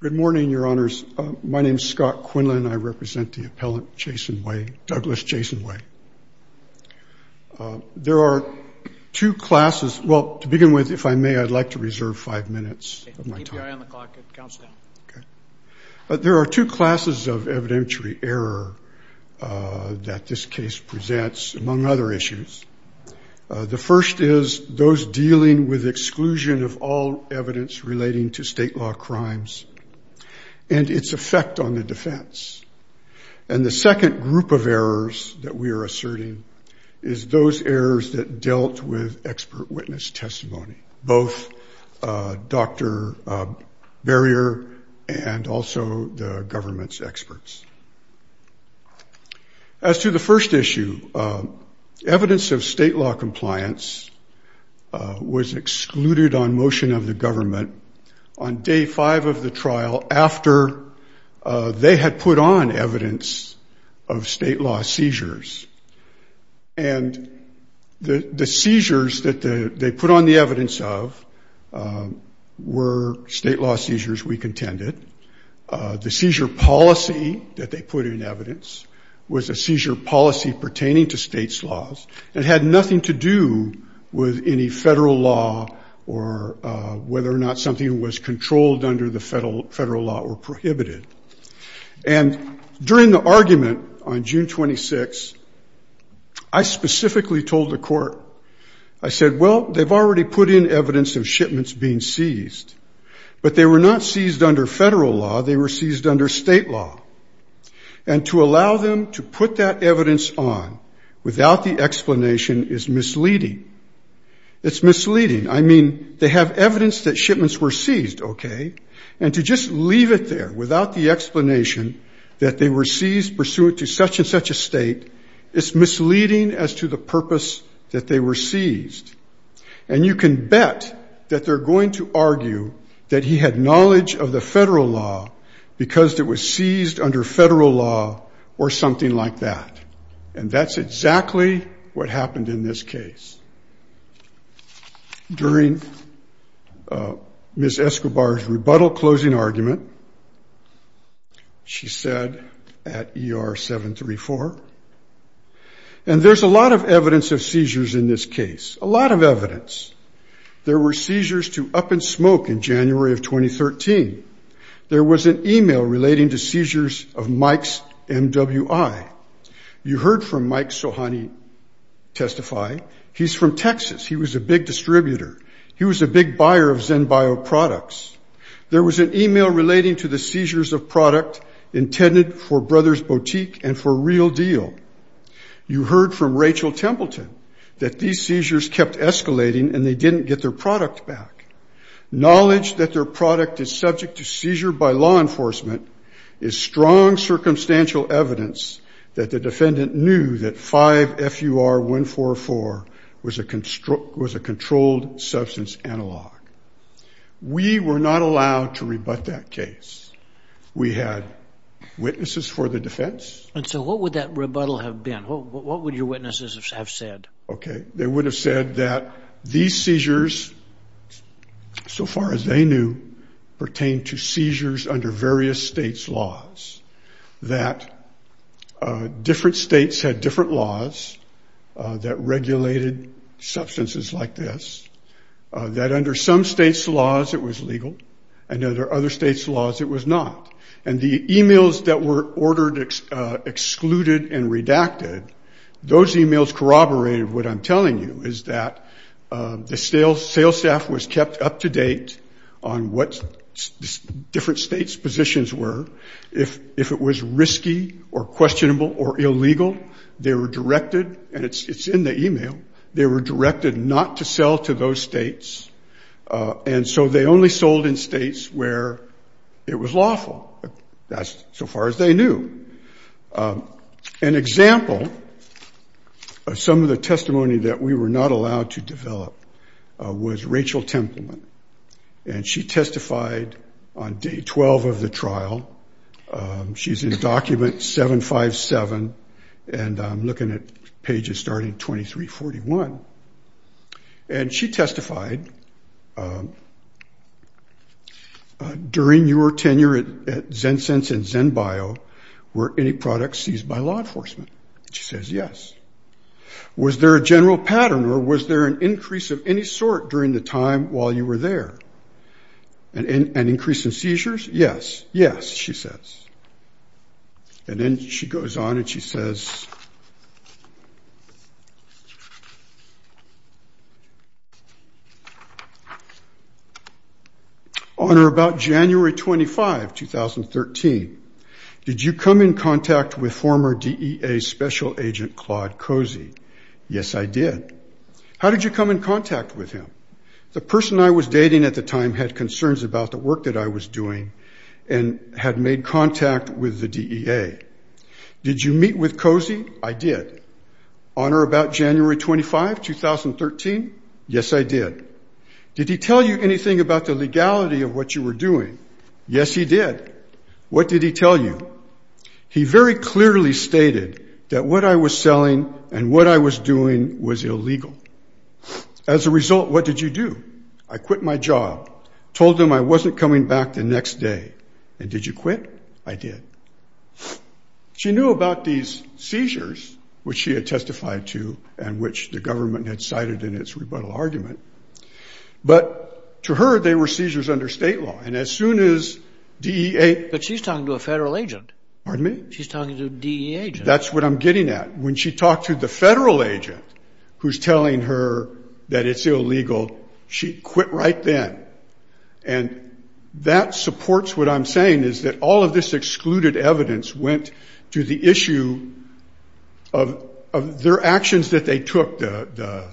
Good morning, your honors. My name is Scott Quinlan. I represent the appellant Jason Way, Douglas Jason Way. There are two classes. Well, to begin with, if I may, I'd like to reserve five minutes. But there are two classes of evidentiary error that this case presents, among other issues. The first is those dealing with exclusion of all evidence relating to state law crimes and its effect on the defense. And the second group of errors that we are asserting is those errors that dealt with expert witness testimony, both Dr. Barrier and also the government's experts. As to the first issue, evidence of state law compliance was excluded on motion of the government on day five of the trial after they had put on evidence of state law seizures. And the seizures that they put on the evidence of were state law seizures, we contended. The seizure policy that they put in evidence was a seizure policy pertaining to state's laws. It had nothing to do with any federal law or whether or not something was controlled under the federal law or prohibited. And during the argument on June 26, I specifically told the court, I said, well, they've already put in evidence of shipments being seized, but they were not seized under federal law. They were seized under state law. And to allow them to put that evidence on without the explanation is misleading. It's misleading. I mean, they have evidence that shipments were seized, okay? And to just leave it there without the explanation that they were seized pursuant to such and such a state, it's misleading as to the purpose that they were seized. And you can bet that they're going to argue that he had knowledge of the federal law because it was seized under federal law or something like that. And that's exactly what happened in this case. During Ms. Escobar's rebuttal closing argument, she said at ER 734, and there's a lot of evidence of seizures in this case, a lot of evidence. There were seizures to up and smoke in January of 2013. There was an email relating to seizures of Mike's MWI. You heard from Mike Sohani testify. He's from Texas. He was a big distributor. He was a big buyer of ZenBio products. There was an email relating to the seizures of product intended for Brothers Boutique and for Real Deal. You heard from Rachel Templeton that these seizures kept escalating and they didn't get their product back. Knowledge that their product is subject to seizure by law enforcement is strong circumstantial evidence that the defendant knew that 5-FUR-144 was a controlled substance analog. We were not allowed to rebut that case. We had witnesses for the defense. And so what would that rebuttal have been? What would your witnesses have said? Okay. They would have said that these seizures, so far as they knew, pertained to seizures under various states' laws, that different states had different laws that regulated substances like this, that under some states' laws it was legal and under other states' laws it was not. And the emails that were ordered, excluded, and redacted, those emails corroborated what I'm telling you, is that the sales staff was kept up to date on what different states' positions were. If it was risky or questionable or illegal, they were directed, and it's in the email, they were directed not to sell to those states. And so they only sold in states where it was lawful. That's so far as they knew. An example of some of the testimony that we were not allowed to develop was Rachel Templeton. And she testified on day 12 of the trial. She's in document 757, and I'm looking at pages starting 2341. And she testified, during your tenure at Zensense and ZenBio, were any products seized by law enforcement? She says yes. Was there a general pattern or was there an increase of any sort during the time while you were there? An increase in seizures? Yes. Yes, she says. And then she goes on and she says, On or about January 25, 2013, did you come in contact with former DEA Special Agent Claude Cozy? Yes, I did. How did you come in contact with him? The person I was dating at the time had concerns about the work that I was doing and had made contact with the DEA. Did you meet with Cozy? I did. On or about January 25, 2013? Yes, I did. Did he tell you anything about the legality of what you were doing? Yes, he did. What did he tell you? He very clearly stated that what I was selling and what I was doing was illegal. As a result, what did you do? I quit my job, told them I wasn't coming back the next day. And did you quit? I did. She knew about these seizures, which she had testified to and which the government had cited in its rebuttal argument. But to her, they were seizures under state law, and as soon as DEA... But she's talking to a federal agent. Pardon me? She's talking to a DEA agent. That's what I'm getting at. When she talked to the federal agent who's telling her that it's illegal, she quit right then. And that supports what I'm saying, is that all of this excluded evidence went to the issue of their actions that they took, the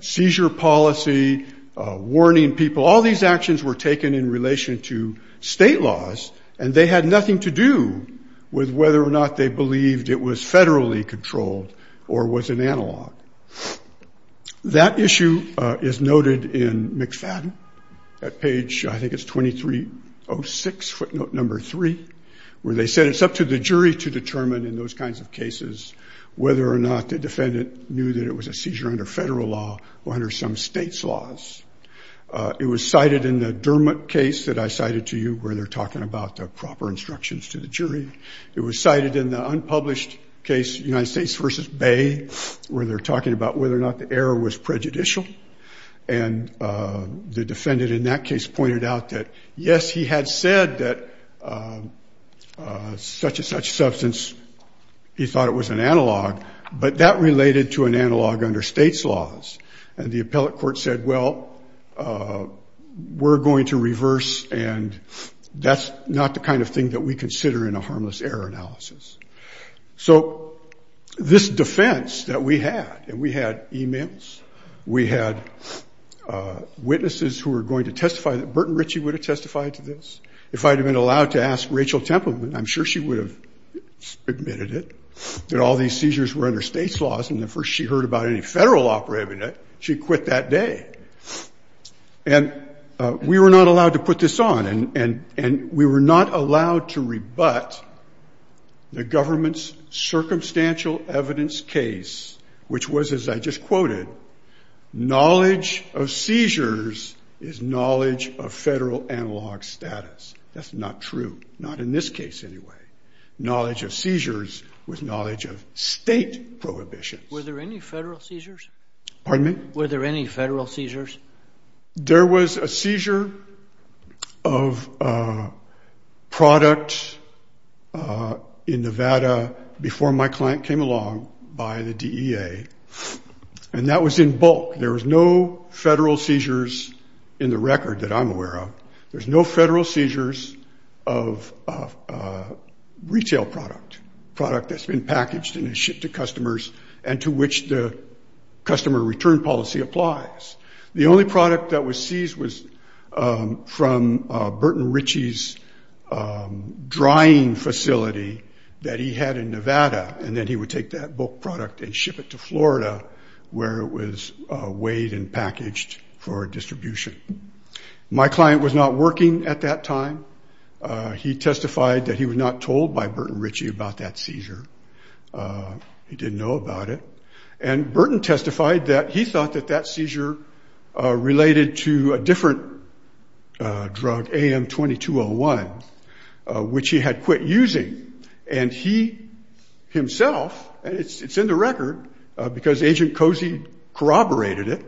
seizure policy, warning people. All these actions were taken in relation to state laws, and they had nothing to do with whether or not they believed it was federally controlled or was an analog. That issue is noted in McFadden at page, I think it's 2306, footnote number three, where they said it's up to the jury to determine in those kinds of cases whether or not the defendant knew that it was a seizure under federal law or under some state's laws. It was cited in the Dermott case that I cited to you, where they're talking about the proper instructions to the jury. It was cited in the unpublished case, United States versus Bay, where they're talking about whether or not the error was prejudicial. And the defendant in that case pointed out that, yes, he had said that such and such substance, he thought it was an analog, but that related to an analog under state's laws. And the appellate court said, well, we're going to reverse, and that's not the kind of thing that we consider in a harmless error analysis. So this defense that we had, and we had e-mails, we had witnesses who were going to testify that Burton Ritchie would have testified to this. If I had been allowed to ask Rachel Templeman, I'm sure she would have admitted it, that all these seizures were under state's laws, and the first she heard about any federal operating it, she quit that day. And we were not allowed to put this on, and we were not allowed to rebut the government's circumstantial evidence case, which was, as I just quoted, knowledge of seizures is knowledge of federal analog status. That's not true, not in this case anyway. Knowledge of seizures was knowledge of state prohibitions. Were there any federal seizures? Pardon me? Were there any federal seizures? There was a seizure of product in Nevada before my client came along by the DEA, and that was in bulk. There was no federal seizures in the record that I'm aware of. There's no federal seizures of retail product, product that's been packaged and shipped to customers and to which the customer return policy applies. The only product that was seized was from Burton Ritchie's drying facility that he had in Nevada, and then he would take that bulk product and ship it to Florida where it was weighed and packaged for distribution. My client was not working at that time. He testified that he was not told by Burton Ritchie about that seizure. He didn't know about it. And Burton testified that he thought that that seizure related to a different drug, AM-2201, which he had quit using, and he himself, and it's in the record because Agent Cozy corroborated it,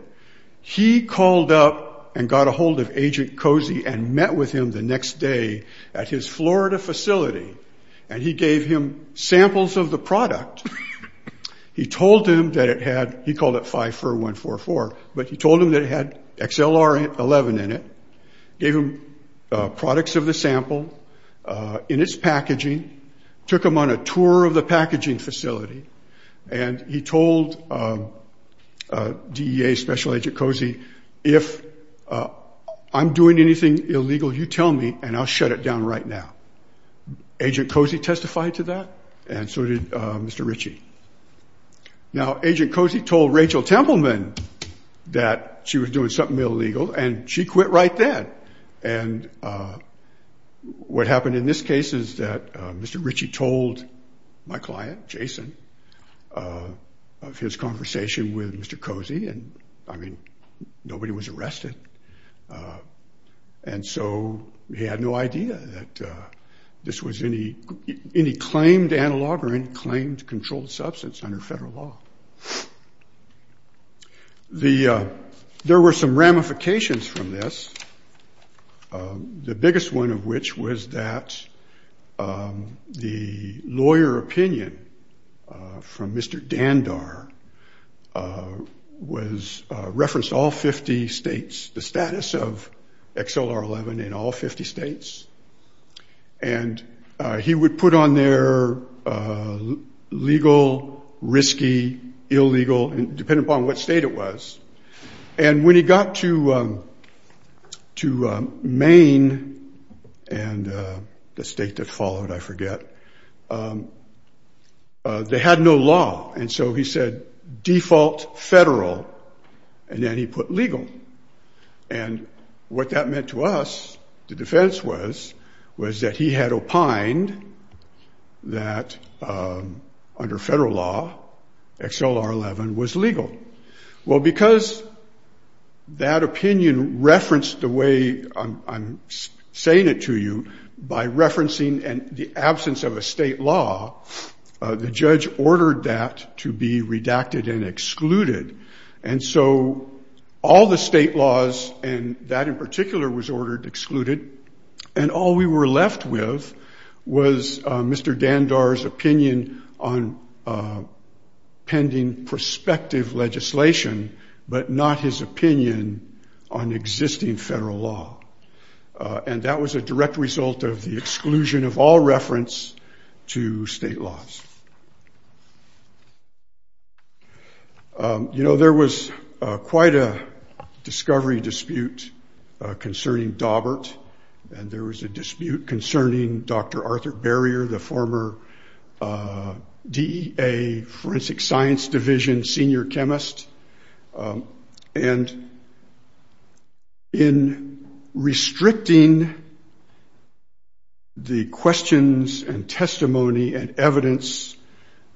he called up and got a hold of Agent Cozy and met with him the next day at his Florida facility, and he gave him samples of the product. He told him that it had, he called it 5-4-1-4-4, but he told him that it had XLR-11 in it, gave him products of the sample in its packaging, took him on a tour of the packaging facility, and he told DEA Special Agent Cozy, if I'm doing anything illegal, you tell me, and I'll shut it down right now. Agent Cozy testified to that, and so did Mr. Ritchie. Now, Agent Cozy told Rachel Templeman that she was doing something illegal, and she quit right then. And what happened in this case is that Mr. Ritchie told my client, Jason, of his conversation with Mr. Cozy, and, I mean, nobody was arrested, and so he had no idea that this was any claimed analog or any claimed controlled substance under federal law. There were some ramifications from this, the biggest one of which was that the lawyer opinion from Mr. Dandar referenced all 50 states, the status of XLR-11 in all 50 states, and he would put on there legal, risky, illegal, depending upon what state it was. And when he got to Maine and the state that followed, I forget, they had no law, and so he said, default federal, and then he put legal. And what that meant to us, the defense was, was that he had opined that under federal law, XLR-11 was legal. Well, because that opinion referenced the way I'm saying it to you by referencing the absence of a state law, the judge ordered that to be redacted and excluded. And so all the state laws, and that in particular was ordered excluded, and all we were left with was Mr. Dandar's opinion on pending prospective legislation, but not his opinion on existing federal law. And that was a direct result of the exclusion of all reference to state laws. You know, there was quite a discovery dispute concerning Daubert, and there was a dispute concerning Dr. Arthur Barrier, the former DEA Forensic Science Division senior chemist. And in restricting the questions and testimony and evidence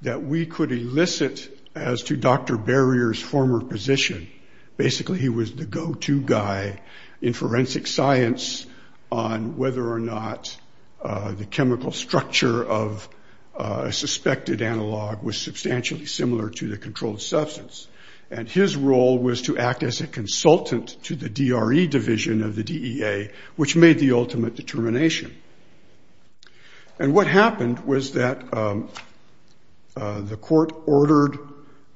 that we could elicit as to Dr. Barrier's former position, basically he was the go-to guy in forensic science on whether or not the chemical structure of a suspected analog was substantially similar to the controlled substance. And his role was to act as a consultant to the DRE division of the DEA, which made the ultimate determination. And what happened was that the court ordered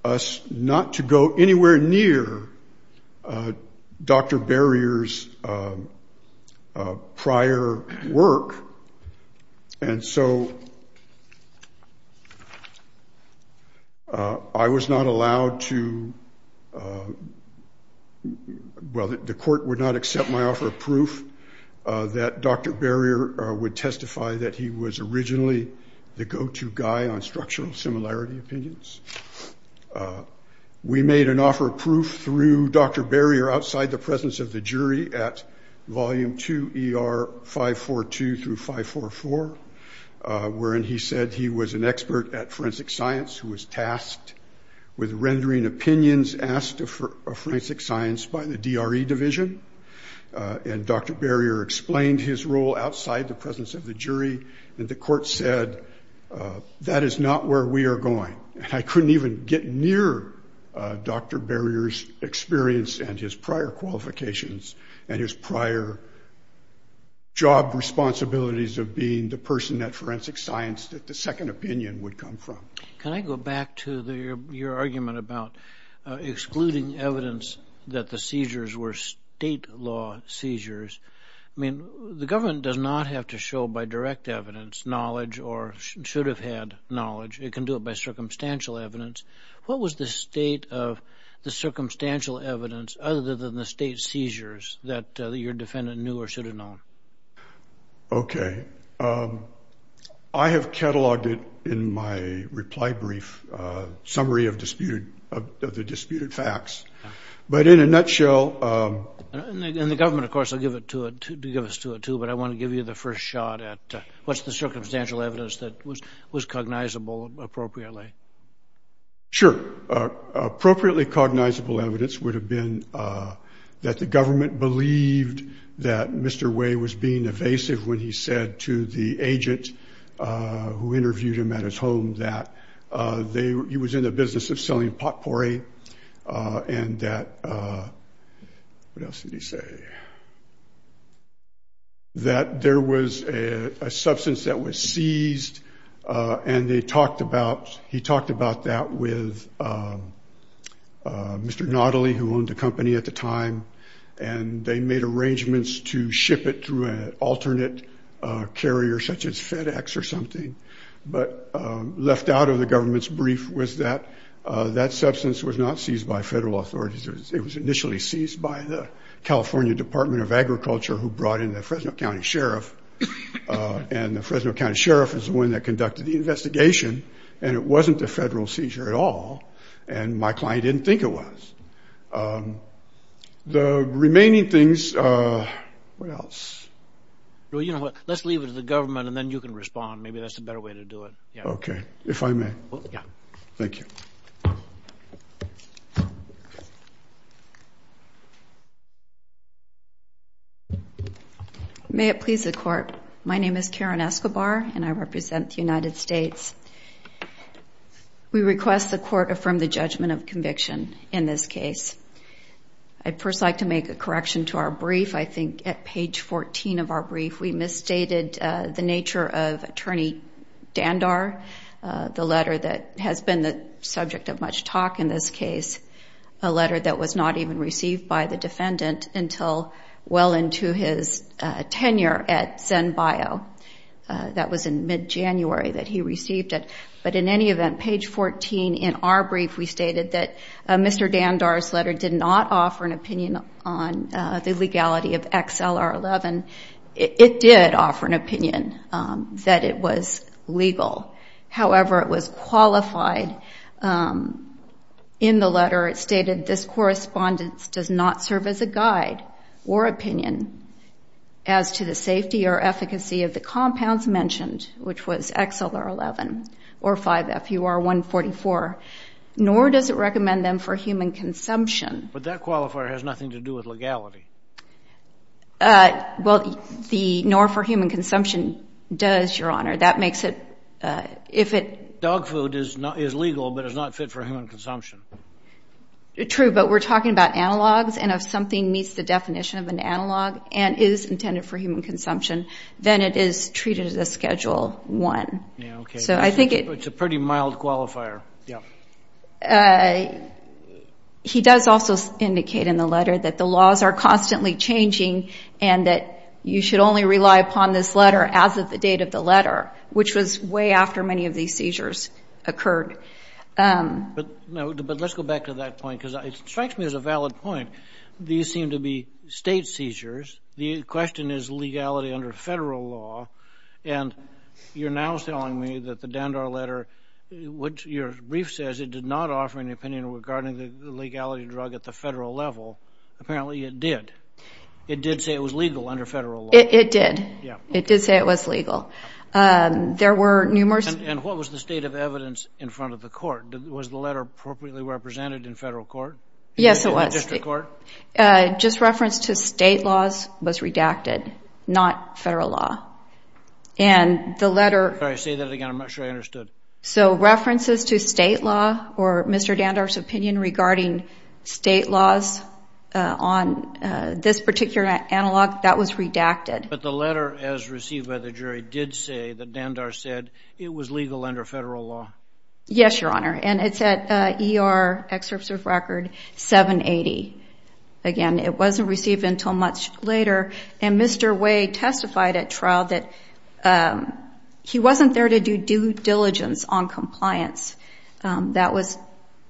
us not to go anywhere near Dr. Barrier's prior work. And so I was not allowed to—well, the court would not accept my offer of proof that Dr. Barrier would testify that he was originally the go-to guy on structural similarity opinions. We made an offer of proof through Dr. Barrier outside the presence of the jury at Volume 2 ER 542 through 544, wherein he said he was an expert at forensic science who was tasked with rendering opinions asked of forensic science by the DRE division. And Dr. Barrier explained his role outside the presence of the jury, and the court said, that is not where we are going. And I couldn't even get near Dr. Barrier's experience and his prior qualifications and his prior job responsibilities of being the person at forensic science that the second opinion would come from. Can I go back to your argument about excluding evidence that the seizures were state law seizures? I mean, the government does not have to show by direct evidence knowledge or should have had knowledge. It can do it by circumstantial evidence. What was the state of the circumstantial evidence other than the state seizures that your defendant knew or should have known? Okay. I have cataloged it in my reply brief summary of the disputed facts. But in a nutshell— And the government, of course, will give us to it, too. But I want to give you the first shot at what's the circumstantial evidence that was cognizable appropriately. Sure. Appropriately cognizable evidence would have been that the government believed that Mr. Way was being evasive when he said to the agent who interviewed him at his home that he was in the business of selling potpourri and that— that there was a substance that was seized. And they talked about—he talked about that with Mr. Notley, who owned the company at the time. And they made arrangements to ship it through an alternate carrier such as FedEx or something. But left out of the government's brief was that that substance was not seized by federal authorities. It was initially seized by the California Department of Agriculture who brought in the Fresno County Sheriff. And the Fresno County Sheriff is the one that conducted the investigation. And it wasn't a federal seizure at all. And my client didn't think it was. The remaining things—what else? Well, you know what? Let's leave it to the government, and then you can respond. Maybe that's the better way to do it. Okay. If I may. Thank you. May it please the Court. My name is Karen Escobar, and I represent the United States. We request the Court affirm the judgment of conviction in this case. I'd first like to make a correction to our brief. I think at page 14 of our brief, we misstated the nature of Attorney Dandar, the letter that has been the subject of much talk in this case, a letter that was not even received by the defendant until well into his tenure at ZenBio. That was in mid-January that he received it. But in any event, page 14 in our brief, we stated that Mr. Dandar's letter did not offer an opinion on the legality of XLR-11. It did offer an opinion that it was legal. However, it was qualified in the letter. It stated this correspondence does not serve as a guide or opinion as to the safety or efficacy of the compounds mentioned, which was XLR-11 or 5-FUR-144, nor does it recommend them for human consumption. But that qualifier has nothing to do with legality. Well, the nor for human consumption does, Your Honor. That makes it if it- Dog food is legal but is not fit for human consumption. True, but we're talking about analogs, and if something meets the definition of an analog and is intended for human consumption, then it is treated as a Schedule I. Yeah, okay. So I think it- It's a pretty mild qualifier. Yeah. He does also indicate in the letter that the laws are constantly changing and that you should only rely upon this letter as of the date of the letter, which was way after many of these seizures occurred. But let's go back to that point because it strikes me as a valid point. These seem to be state seizures. The question is legality under federal law, and you're now telling me that the Dandar letter, which your brief says it did not offer any opinion regarding the legality drug at the federal level. Apparently it did. It did say it was legal under federal law. It did. Yeah. It did say it was legal. There were numerous- And what was the state of evidence in front of the court? Was the letter appropriately represented in federal court? Yes, it was. In the district court? Just reference to state laws was redacted, not federal law. And the letter- Sorry, say that again. I'm not sure I understood. So references to state law or Mr. Dandar's opinion regarding state laws on this particular analog, that was redacted. But the letter as received by the jury did say that Dandar said it was legal under federal law. Yes, Your Honor, and it's at ER Excerpt of Record 780. Again, it wasn't received until much later, and Mr. Way testified at trial that he wasn't there to do due diligence on compliance. That was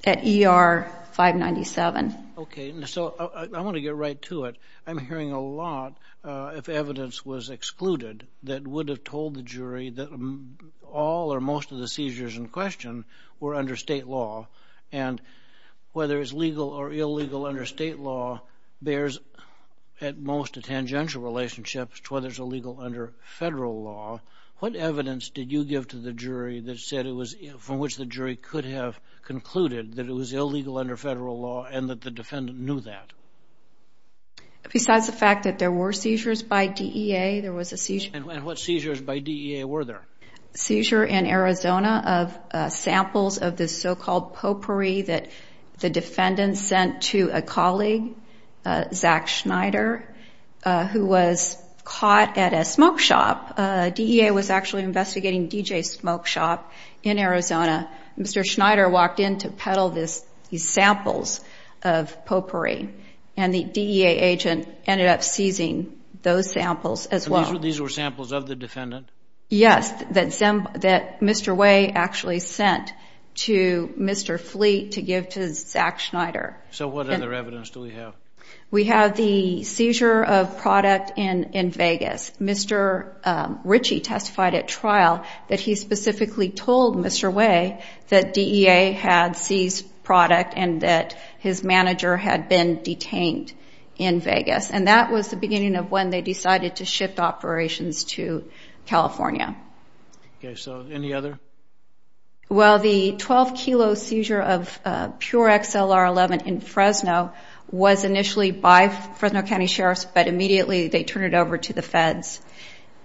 at ER 597. Okay. So I want to get right to it. I'm hearing a lot of evidence was excluded that would have told the jury that all or most of the seizures in question were under state law, and whether it's legal or illegal under state law bears at most a tangential relationship to whether it's illegal under federal law. What evidence did you give to the jury that said it was- from which the jury could have concluded that it was illegal under federal law and that the defendant knew that? Besides the fact that there were seizures by DEA, there was a seizure- And what seizures by DEA were there? Seizure in Arizona of samples of the so-called potpourri that the defendant sent to a colleague, Zach Schneider, who was caught at a smoke shop. DEA was actually investigating DJ's smoke shop in Arizona. Mr. Schneider walked in to peddle these samples of potpourri, and the DEA agent ended up seizing those samples as well. These were samples of the defendant? Yes, that Mr. Way actually sent to Mr. Fleet to give to Zach Schneider. So what other evidence do we have? We have the seizure of product in Vegas. Mr. Ritchie testified at trial that he specifically told Mr. Way that DEA had seized product And that was the beginning of when they decided to shift operations to California. Okay, so any other? Well, the 12-kilo seizure of pure XLR11 in Fresno was initially by Fresno County Sheriff's, but immediately they turned it over to the feds.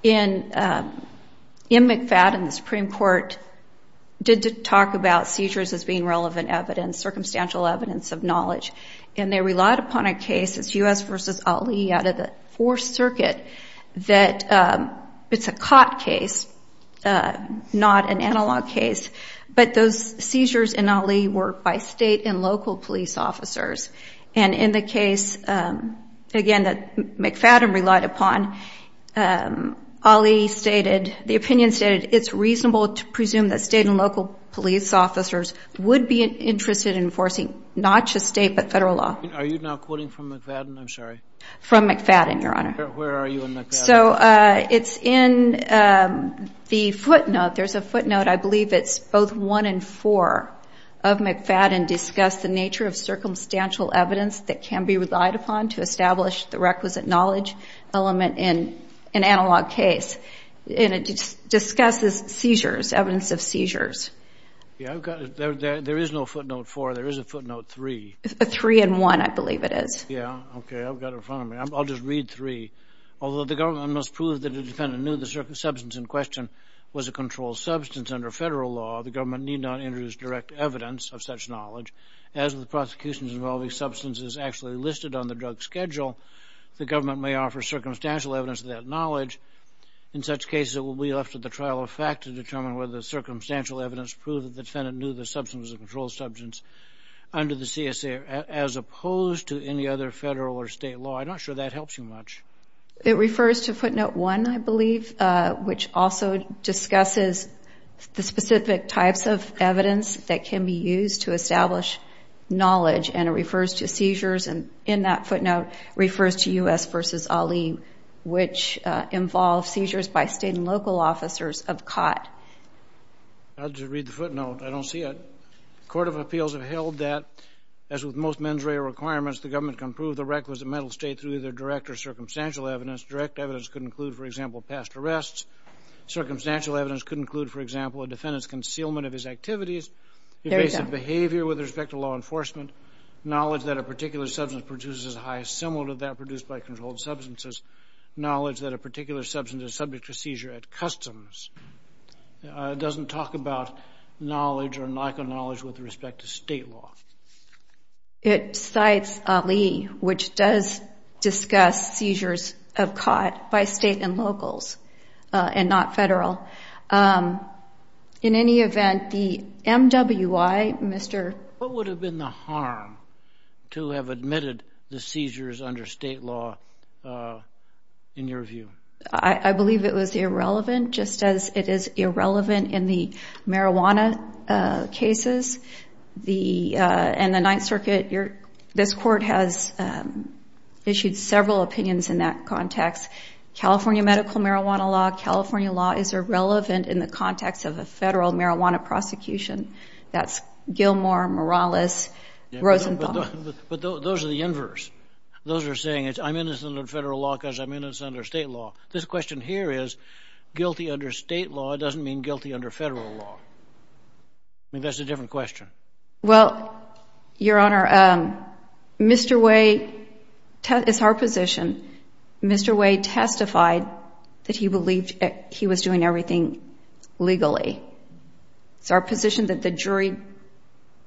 In McFadden, the Supreme Court did talk about seizures as being relevant evidence, circumstantial evidence of knowledge. And they relied upon a case, it's U.S. v. Ali out of the Fourth Circuit, that it's a caught case, not an analog case. But those seizures in Ali were by state and local police officers. And in the case, again, that McFadden relied upon, Ali stated, the opinion stated, it's reasonable to presume that state and local police officers would be interested in enforcing not just state but federal law. Are you now quoting from McFadden? I'm sorry. From McFadden, Your Honor. Where are you in McFadden? So it's in the footnote. There's a footnote, I believe it's both 1 and 4 of McFadden, discuss the nature of circumstantial evidence that can be relied upon to establish the requisite knowledge element in an analog case. And it discusses seizures, evidence of seizures. Yeah, I've got it. There is no footnote 4. There is a footnote 3. 3 and 1, I believe it is. Yeah, okay, I've got it in front of me. I'll just read 3. Although the government must prove that a defendant knew the substance in question was a controlled substance under federal law, the government need not introduce direct evidence of such knowledge. As with prosecutions involving substances actually listed on the drug schedule, the government may offer circumstantial evidence of that knowledge. In such cases, it will be left to the trial of fact to determine whether the circumstantial evidence proved that the defendant knew the substance was a controlled substance under the CSA, as opposed to any other federal or state law. I'm not sure that helps you much. It refers to footnote 1, I believe, which also discusses the specific types of evidence that can be used to establish knowledge. And it refers to seizures, and in that footnote, refers to U.S. v. Ali, which involves seizures by state and local officers of COT. I'll just read the footnote. I don't see it. Court of Appeals have held that, as with most mens rea requirements, the government can prove the requisite mental state through either direct or circumstantial evidence. Direct evidence could include, for example, past arrests. Circumstantial evidence could include, for example, a defendant's concealment of his activities, evasive behavior with respect to law enforcement, knowledge that a particular substance produces a high similar to that produced by controlled substances, knowledge that a particular substance is subject to seizure at customs. It doesn't talk about knowledge or lack of knowledge with respect to state law. It cites Ali, which does discuss seizures of COT by state and locals, and not federal. In any event, the MWI, Mr. What would have been the harm to have admitted the seizures under state law, in your view? I believe it was irrelevant, just as it is irrelevant in the marijuana cases. In the Ninth Circuit, this Court has issued several opinions in that context. California medical marijuana law, California law, is irrelevant in the context of a federal marijuana prosecution. That's Gilmore, Morales, Rosenbaum. But those are the inverse. Those are saying, I'm innocent under federal law because I'm innocent under state law. This question here is, guilty under state law doesn't mean guilty under federal law. I mean, that's a different question. Well, Your Honor, Mr. Wade testified that he believed he was doing everything legally. It's our position that the jury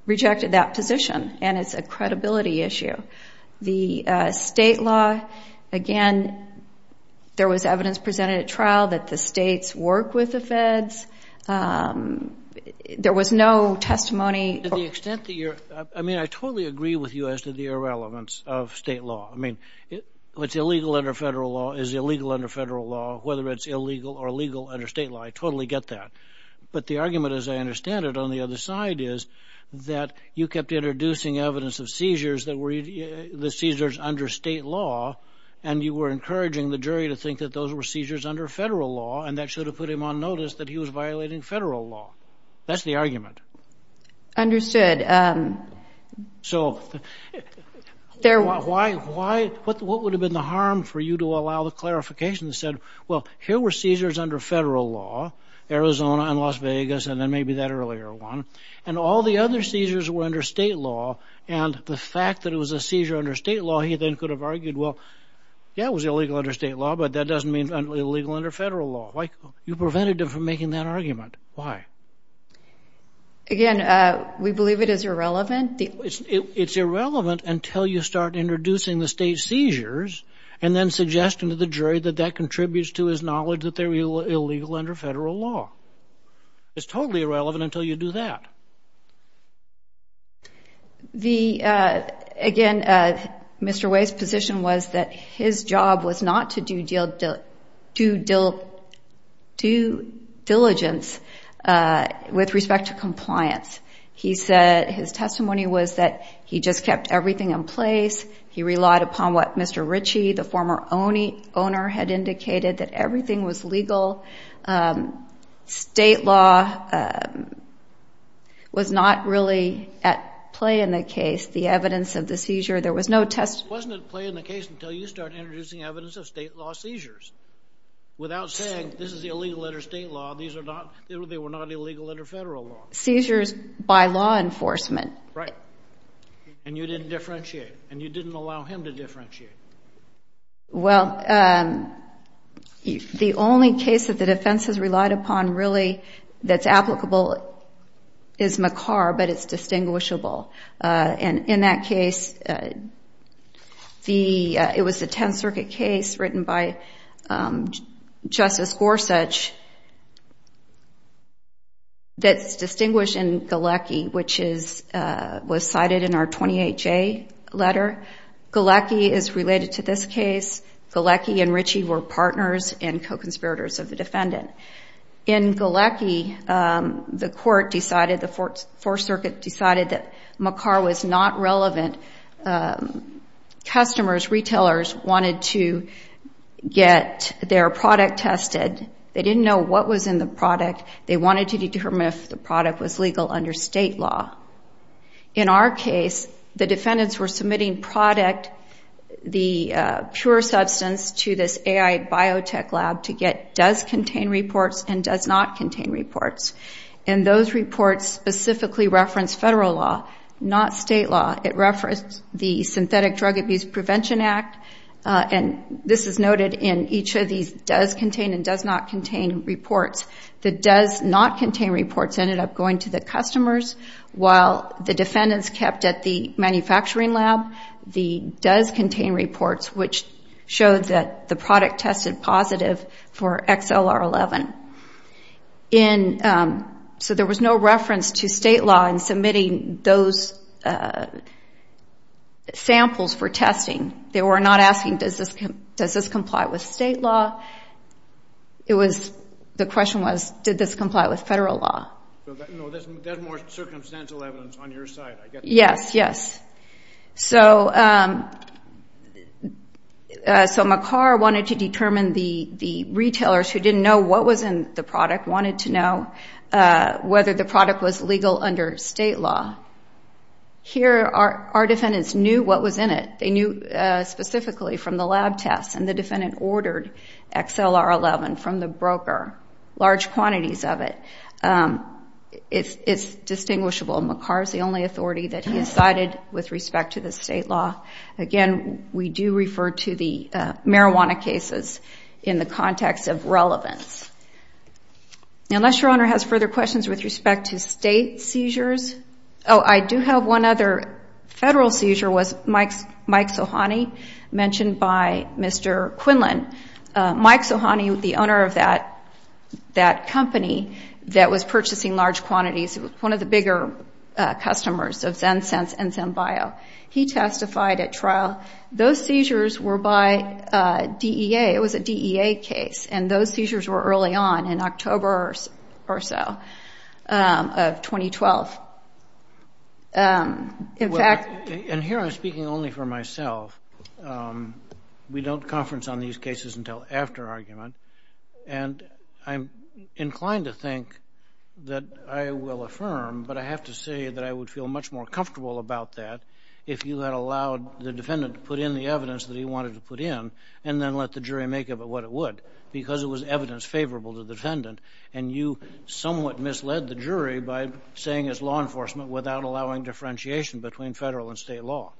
rejected that position, and it's a credibility issue. The state law, again, there was evidence presented at trial that the states work with the feds. There was no testimony. To the extent that you're – I mean, I totally agree with you as to the irrelevance of state law. I mean, what's illegal under federal law is illegal under federal law, whether it's illegal or legal under state law. I totally get that. But the argument, as I understand it, on the other side is that you kept introducing evidence of seizures that were – the seizures under state law, and you were encouraging the jury to think that those were seizures under federal law, and that should have put him on notice that he was violating federal law. That's the argument. Understood. So why – what would have been the harm for you to allow the clarification that said, well, here were seizures under federal law, Arizona and Las Vegas, and then maybe that earlier one, and all the other seizures were under state law, and the fact that it was a seizure under state law, he then could have argued, well, yeah, it was illegal under state law, but that doesn't mean it's illegal under federal law. You prevented him from making that argument. Why? Again, we believe it is irrelevant. It's irrelevant until you start introducing the state seizures and then suggesting to the jury that that contributes to his knowledge that they're illegal under federal law. It's totally irrelevant until you do that. The – again, Mr. Way's position was that his job was not to do due diligence with respect to compliance. He said his testimony was that he just kept everything in place. He relied upon what Mr. Ritchie, the former owner, had indicated, that everything was legal. State law was not really at play in the case. The evidence of the seizure, there was no testimony. It wasn't at play in the case until you started introducing evidence of state law seizures without saying this is illegal under state law, these are not – they were not illegal under federal law. Seizures by law enforcement. Right, and you didn't differentiate, and you didn't allow him to differentiate. Well, the only case that the defense has relied upon really that's applicable is McCarr, but it's distinguishable. And in that case, it was the Tenth Circuit case written by Justice Gorsuch that's distinguished in Galecki, which was cited in our 28-J letter. Galecki is related to this case. Galecki and Ritchie were partners and co-conspirators of the defendant. In Galecki, the court decided, the Fourth Circuit decided that McCarr was not relevant. Customers, retailers wanted to get their product tested. They didn't know what was in the product. They wanted to determine if the product was legal under state law. In our case, the defendants were submitting product, the pure substance, to this AI biotech lab to get does-contain reports and does-not-contain reports. And those reports specifically referenced federal law, not state law. It referenced the Synthetic Drug Abuse Prevention Act, and this is noted in each of these does-contain and does-not-contain reports. The does-not-contain reports ended up going to the customers, while the defendants kept at the manufacturing lab the does-contain reports, which showed that the product tested positive for XLR11. So there was no reference to state law in submitting those samples for testing. They were not asking, does this comply with state law? The question was, did this comply with federal law? No, there's more circumstantial evidence on your side. Yes, yes. So McCarr wanted to determine the retailers who didn't know what was in the product, wanted to know whether the product was legal under state law. Here, our defendants knew what was in it. They knew specifically from the lab tests, and the defendant ordered XLR11 from the broker, large quantities of it. It's distinguishable. McCarr is the only authority that he decided with respect to the state law. Again, we do refer to the marijuana cases in the context of relevance. Unless your Honor has further questions with respect to state seizures. I do have one other federal seizure was Mike Sohani, mentioned by Mr. Quinlan. Mike Sohani, the owner of that company that was purchasing large quantities, one of the bigger customers of ZenSense and ZenBio, he testified at trial. Those seizures were by DEA. Those seizures were early on, in October or so of 2012. In fact- And here I'm speaking only for myself. We don't conference on these cases until after argument, and I'm inclined to think that I will affirm, but I have to say that I would feel much more comfortable about that if you had allowed the defendant to put in the evidence that he wanted to put in and then let the jury make of it what it would, because it was evidence favorable to the defendant, and you somewhat misled the jury by saying it's law enforcement without allowing differentiation between federal and state law.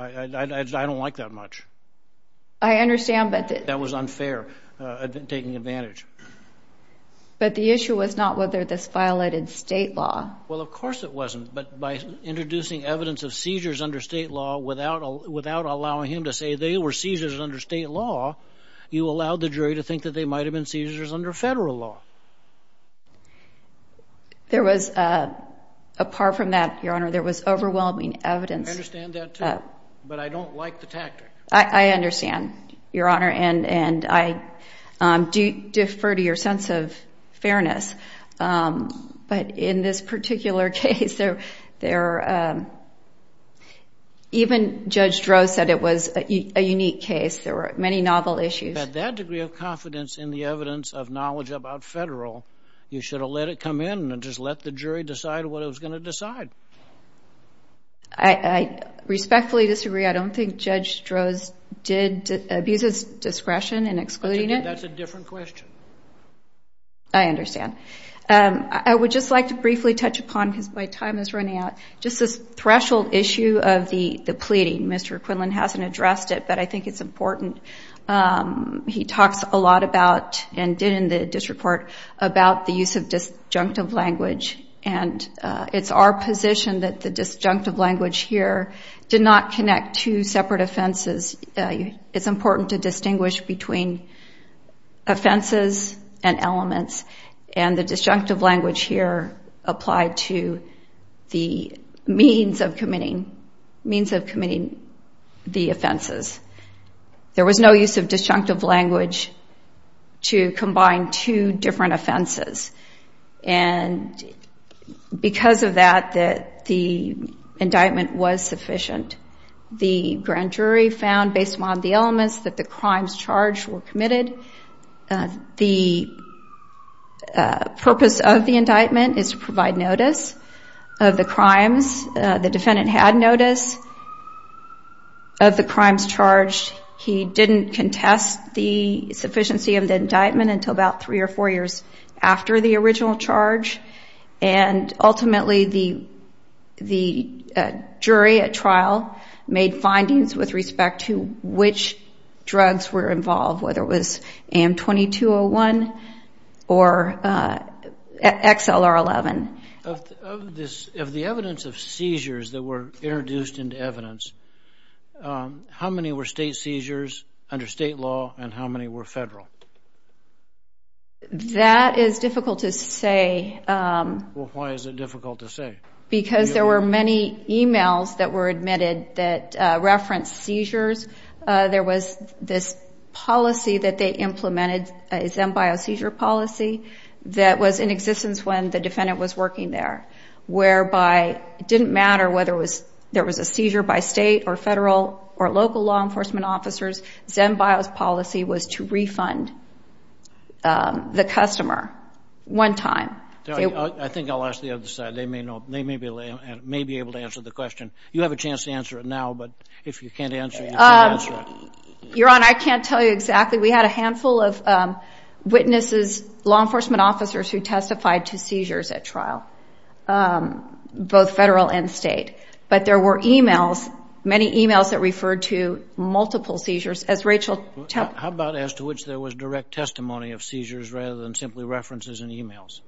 I don't like that much. I understand, but- That was unfair taking advantage. But the issue was not whether this violated state law. Well, of course it wasn't, but by introducing evidence of seizures under state law without allowing him to say they were seizures under state law, you allowed the jury to think that they might have been seizures under federal law. Apart from that, Your Honor, there was overwhelming evidence- I understand that, too, but I don't like the tactic. I understand, Your Honor, and I do defer to your sense of fairness. But in this particular case, even Judge Droz said it was a unique case. There were many novel issues. But that degree of confidence in the evidence of knowledge about federal, you should have let it come in and just let the jury decide what it was going to decide. I respectfully disagree. I don't think Judge Droz abuses discretion in excluding it. That's a different question. I understand. I would just like to briefly touch upon, because my time is running out, just this threshold issue of the pleading. Mr. Quinlan hasn't addressed it, but I think it's important. He talks a lot about and did in the district court about the use of disjunctive language, and it's our position that the disjunctive language here did not connect to separate offenses. It's important to distinguish between offenses and elements, and the disjunctive language here applied to the means of committing the offenses. There was no use of disjunctive language to combine two different offenses, and because of that, the indictment was sufficient. The grand jury found, based on the elements, that the crimes charged were committed. The purpose of the indictment is to provide notice of the crimes. The defendant had notice of the crimes charged. He didn't contest the sufficiency of the indictment until about three or four years after the original charge, and ultimately the jury at trial made findings with respect to which drugs were involved, whether it was AM-2201 or XLR-11. Of the evidence of seizures that were introduced into evidence, how many were state seizures under state law, and how many were federal? That is difficult to say. Well, why is it difficult to say? Because there were many emails that were admitted that referenced seizures. There was this policy that they implemented, a Zenbio seizure policy, that was in existence when the defendant was working there, whereby it didn't matter whether there was a seizure by state or federal or local law enforcement officers. Zenbio's policy was to refund the customer one time. I think I'll ask the other side. They may be able to answer the question. You have a chance to answer it now, but if you can't answer it, you can't answer it. Your Honor, I can't tell you exactly. We had a handful of witnesses, law enforcement officers, who testified to seizures at trial, both federal and state. But there were emails, many emails that referred to multiple seizures. How about as to which there was direct testimony of seizures rather than simply references and emails?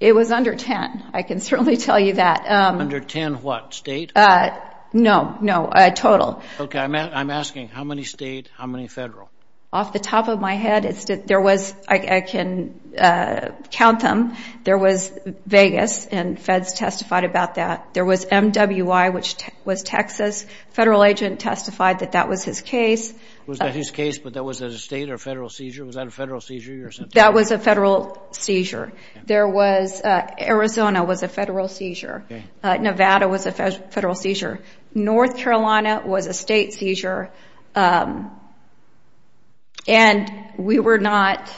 It was under 10. I can certainly tell you that. Under 10 what, state? No, no, total. Okay, I'm asking how many state, how many federal? Off the top of my head, I can count them. There was Vegas, and feds testified about that. There was MWI, which was Texas. A federal agent testified that that was his case. Was that his case, but that was at a state or federal seizure? Was that a federal seizure? That was a federal seizure. Arizona was a federal seizure. Nevada was a federal seizure. North Carolina was a state seizure. And we were not,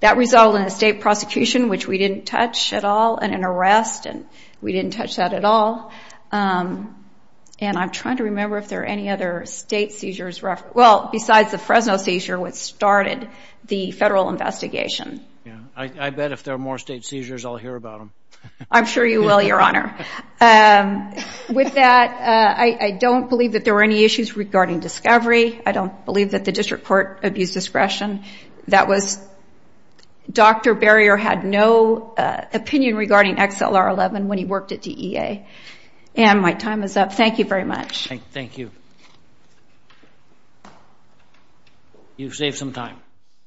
that resulted in a state prosecution, which we didn't touch at all, and an arrest, and we didn't touch that at all. And I'm trying to remember if there are any other state seizures, well, besides the Fresno seizure, which started the federal investigation. Yeah, I bet if there are more state seizures, I'll hear about them. I'm sure you will, Your Honor. With that, I don't believe that there were any issues regarding discovery. I don't believe that the district court abused discretion. That was, Dr. Barrier had no opinion regarding XLR-11 when he worked at DEA. And my time is up. Thank you very much. Thank you. You've saved some time.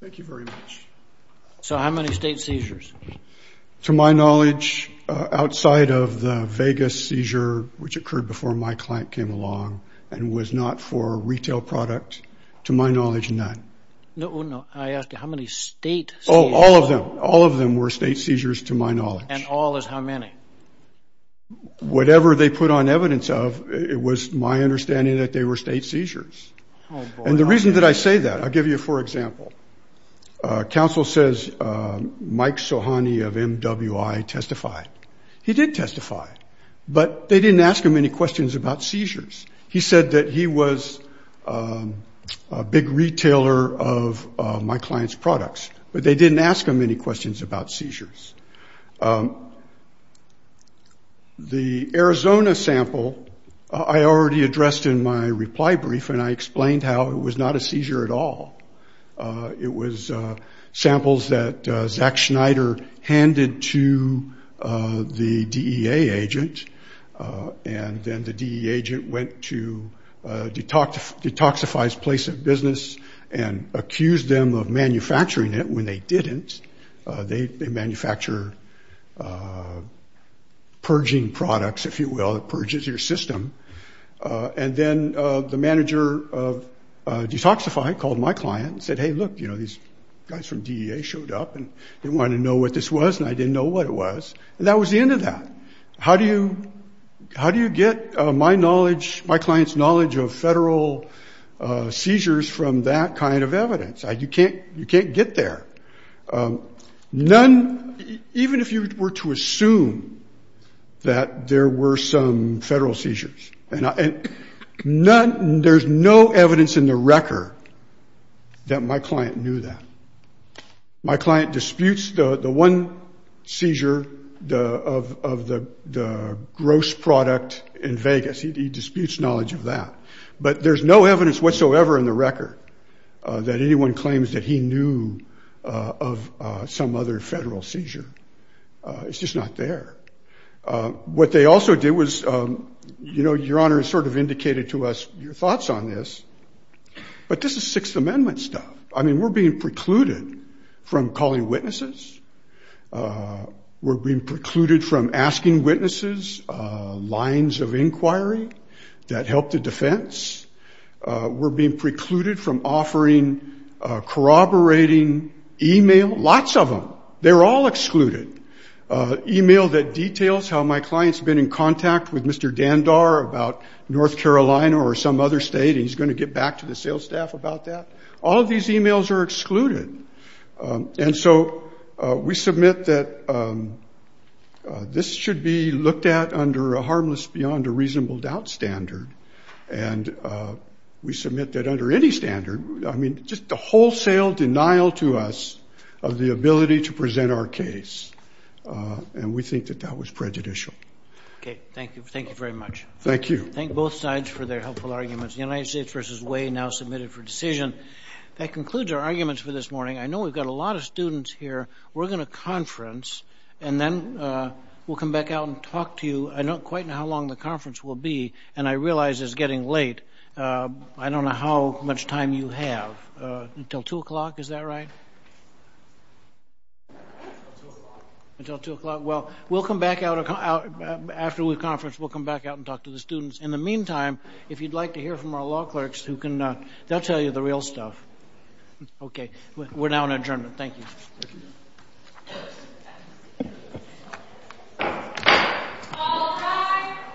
Thank you very much. So how many state seizures? To my knowledge, outside of the Vegas seizure, which occurred before my client came along and was not for retail product, to my knowledge, none. No, I asked you how many state seizures. Oh, all of them. All of them were state seizures to my knowledge. And all is how many? Whatever they put on evidence of, it was my understanding that they were state seizures. And the reason that I say that, I'll give you a poor example. Counsel says Mike Sohani of MWI testified. He did testify, but they didn't ask him any questions about seizures. He said that he was a big retailer of my client's products, but they didn't ask him any questions about seizures. The Arizona sample I already addressed in my reply brief, and I explained how it was not a seizure at all. It was samples that Zack Schneider handed to the DEA agent, and then the DEA agent went to Detoxify's place of business and accused them of manufacturing it when they didn't. They manufacture purging products, if you will, that purges your system. And then the manager of Detoxify called my client and said, hey, look, you know, these guys from DEA showed up, and they wanted to know what this was, and I didn't know what it was. And that was the end of that. How do you get my knowledge, my client's knowledge, of federal seizures from that kind of evidence? You can't get there. None, even if you were to assume that there were some federal seizures, there's no evidence in the record that my client knew that. My client disputes the one seizure of the gross product in Vegas. He disputes knowledge of that. But there's no evidence whatsoever in the record that anyone claims that he knew of some other federal seizure. It's just not there. What they also did was, you know, Your Honor has sort of indicated to us your thoughts on this, but this is Sixth Amendment stuff. I mean, we're being precluded from calling witnesses. We're being precluded from asking witnesses lines of inquiry that help the defense. We're being precluded from offering corroborating e-mail. Lots of them. They're all excluded. E-mail that details how my client's been in contact with Mr. Dandar about North Carolina or some other state, and he's going to get back to the sales staff about that. All of these e-mails are excluded. And so we submit that this should be looked at under a harmless beyond a reasonable doubt standard, and we submit that under any standard. I mean, just the wholesale denial to us of the ability to present our case, and we think that that was prejudicial. Okay, thank you. Thank you very much. Thank you. Thank both sides for their helpful arguments. United States v. Way now submitted for decision. That concludes our arguments for this morning. I know we've got a lot of students here. We're going to conference, and then we'll come back out and talk to you. I don't quite know how long the conference will be, and I realize it's getting late. I don't know how much time you have. Until 2 o'clock, is that right? Until 2 o'clock. Until 2 o'clock. Well, we'll come back out after we conference. We'll come back out and talk to the students. In the meantime, if you'd like to hear from our law clerks, they'll tell you the real stuff. Okay, we're now on adjournment. Thank you. Thank you.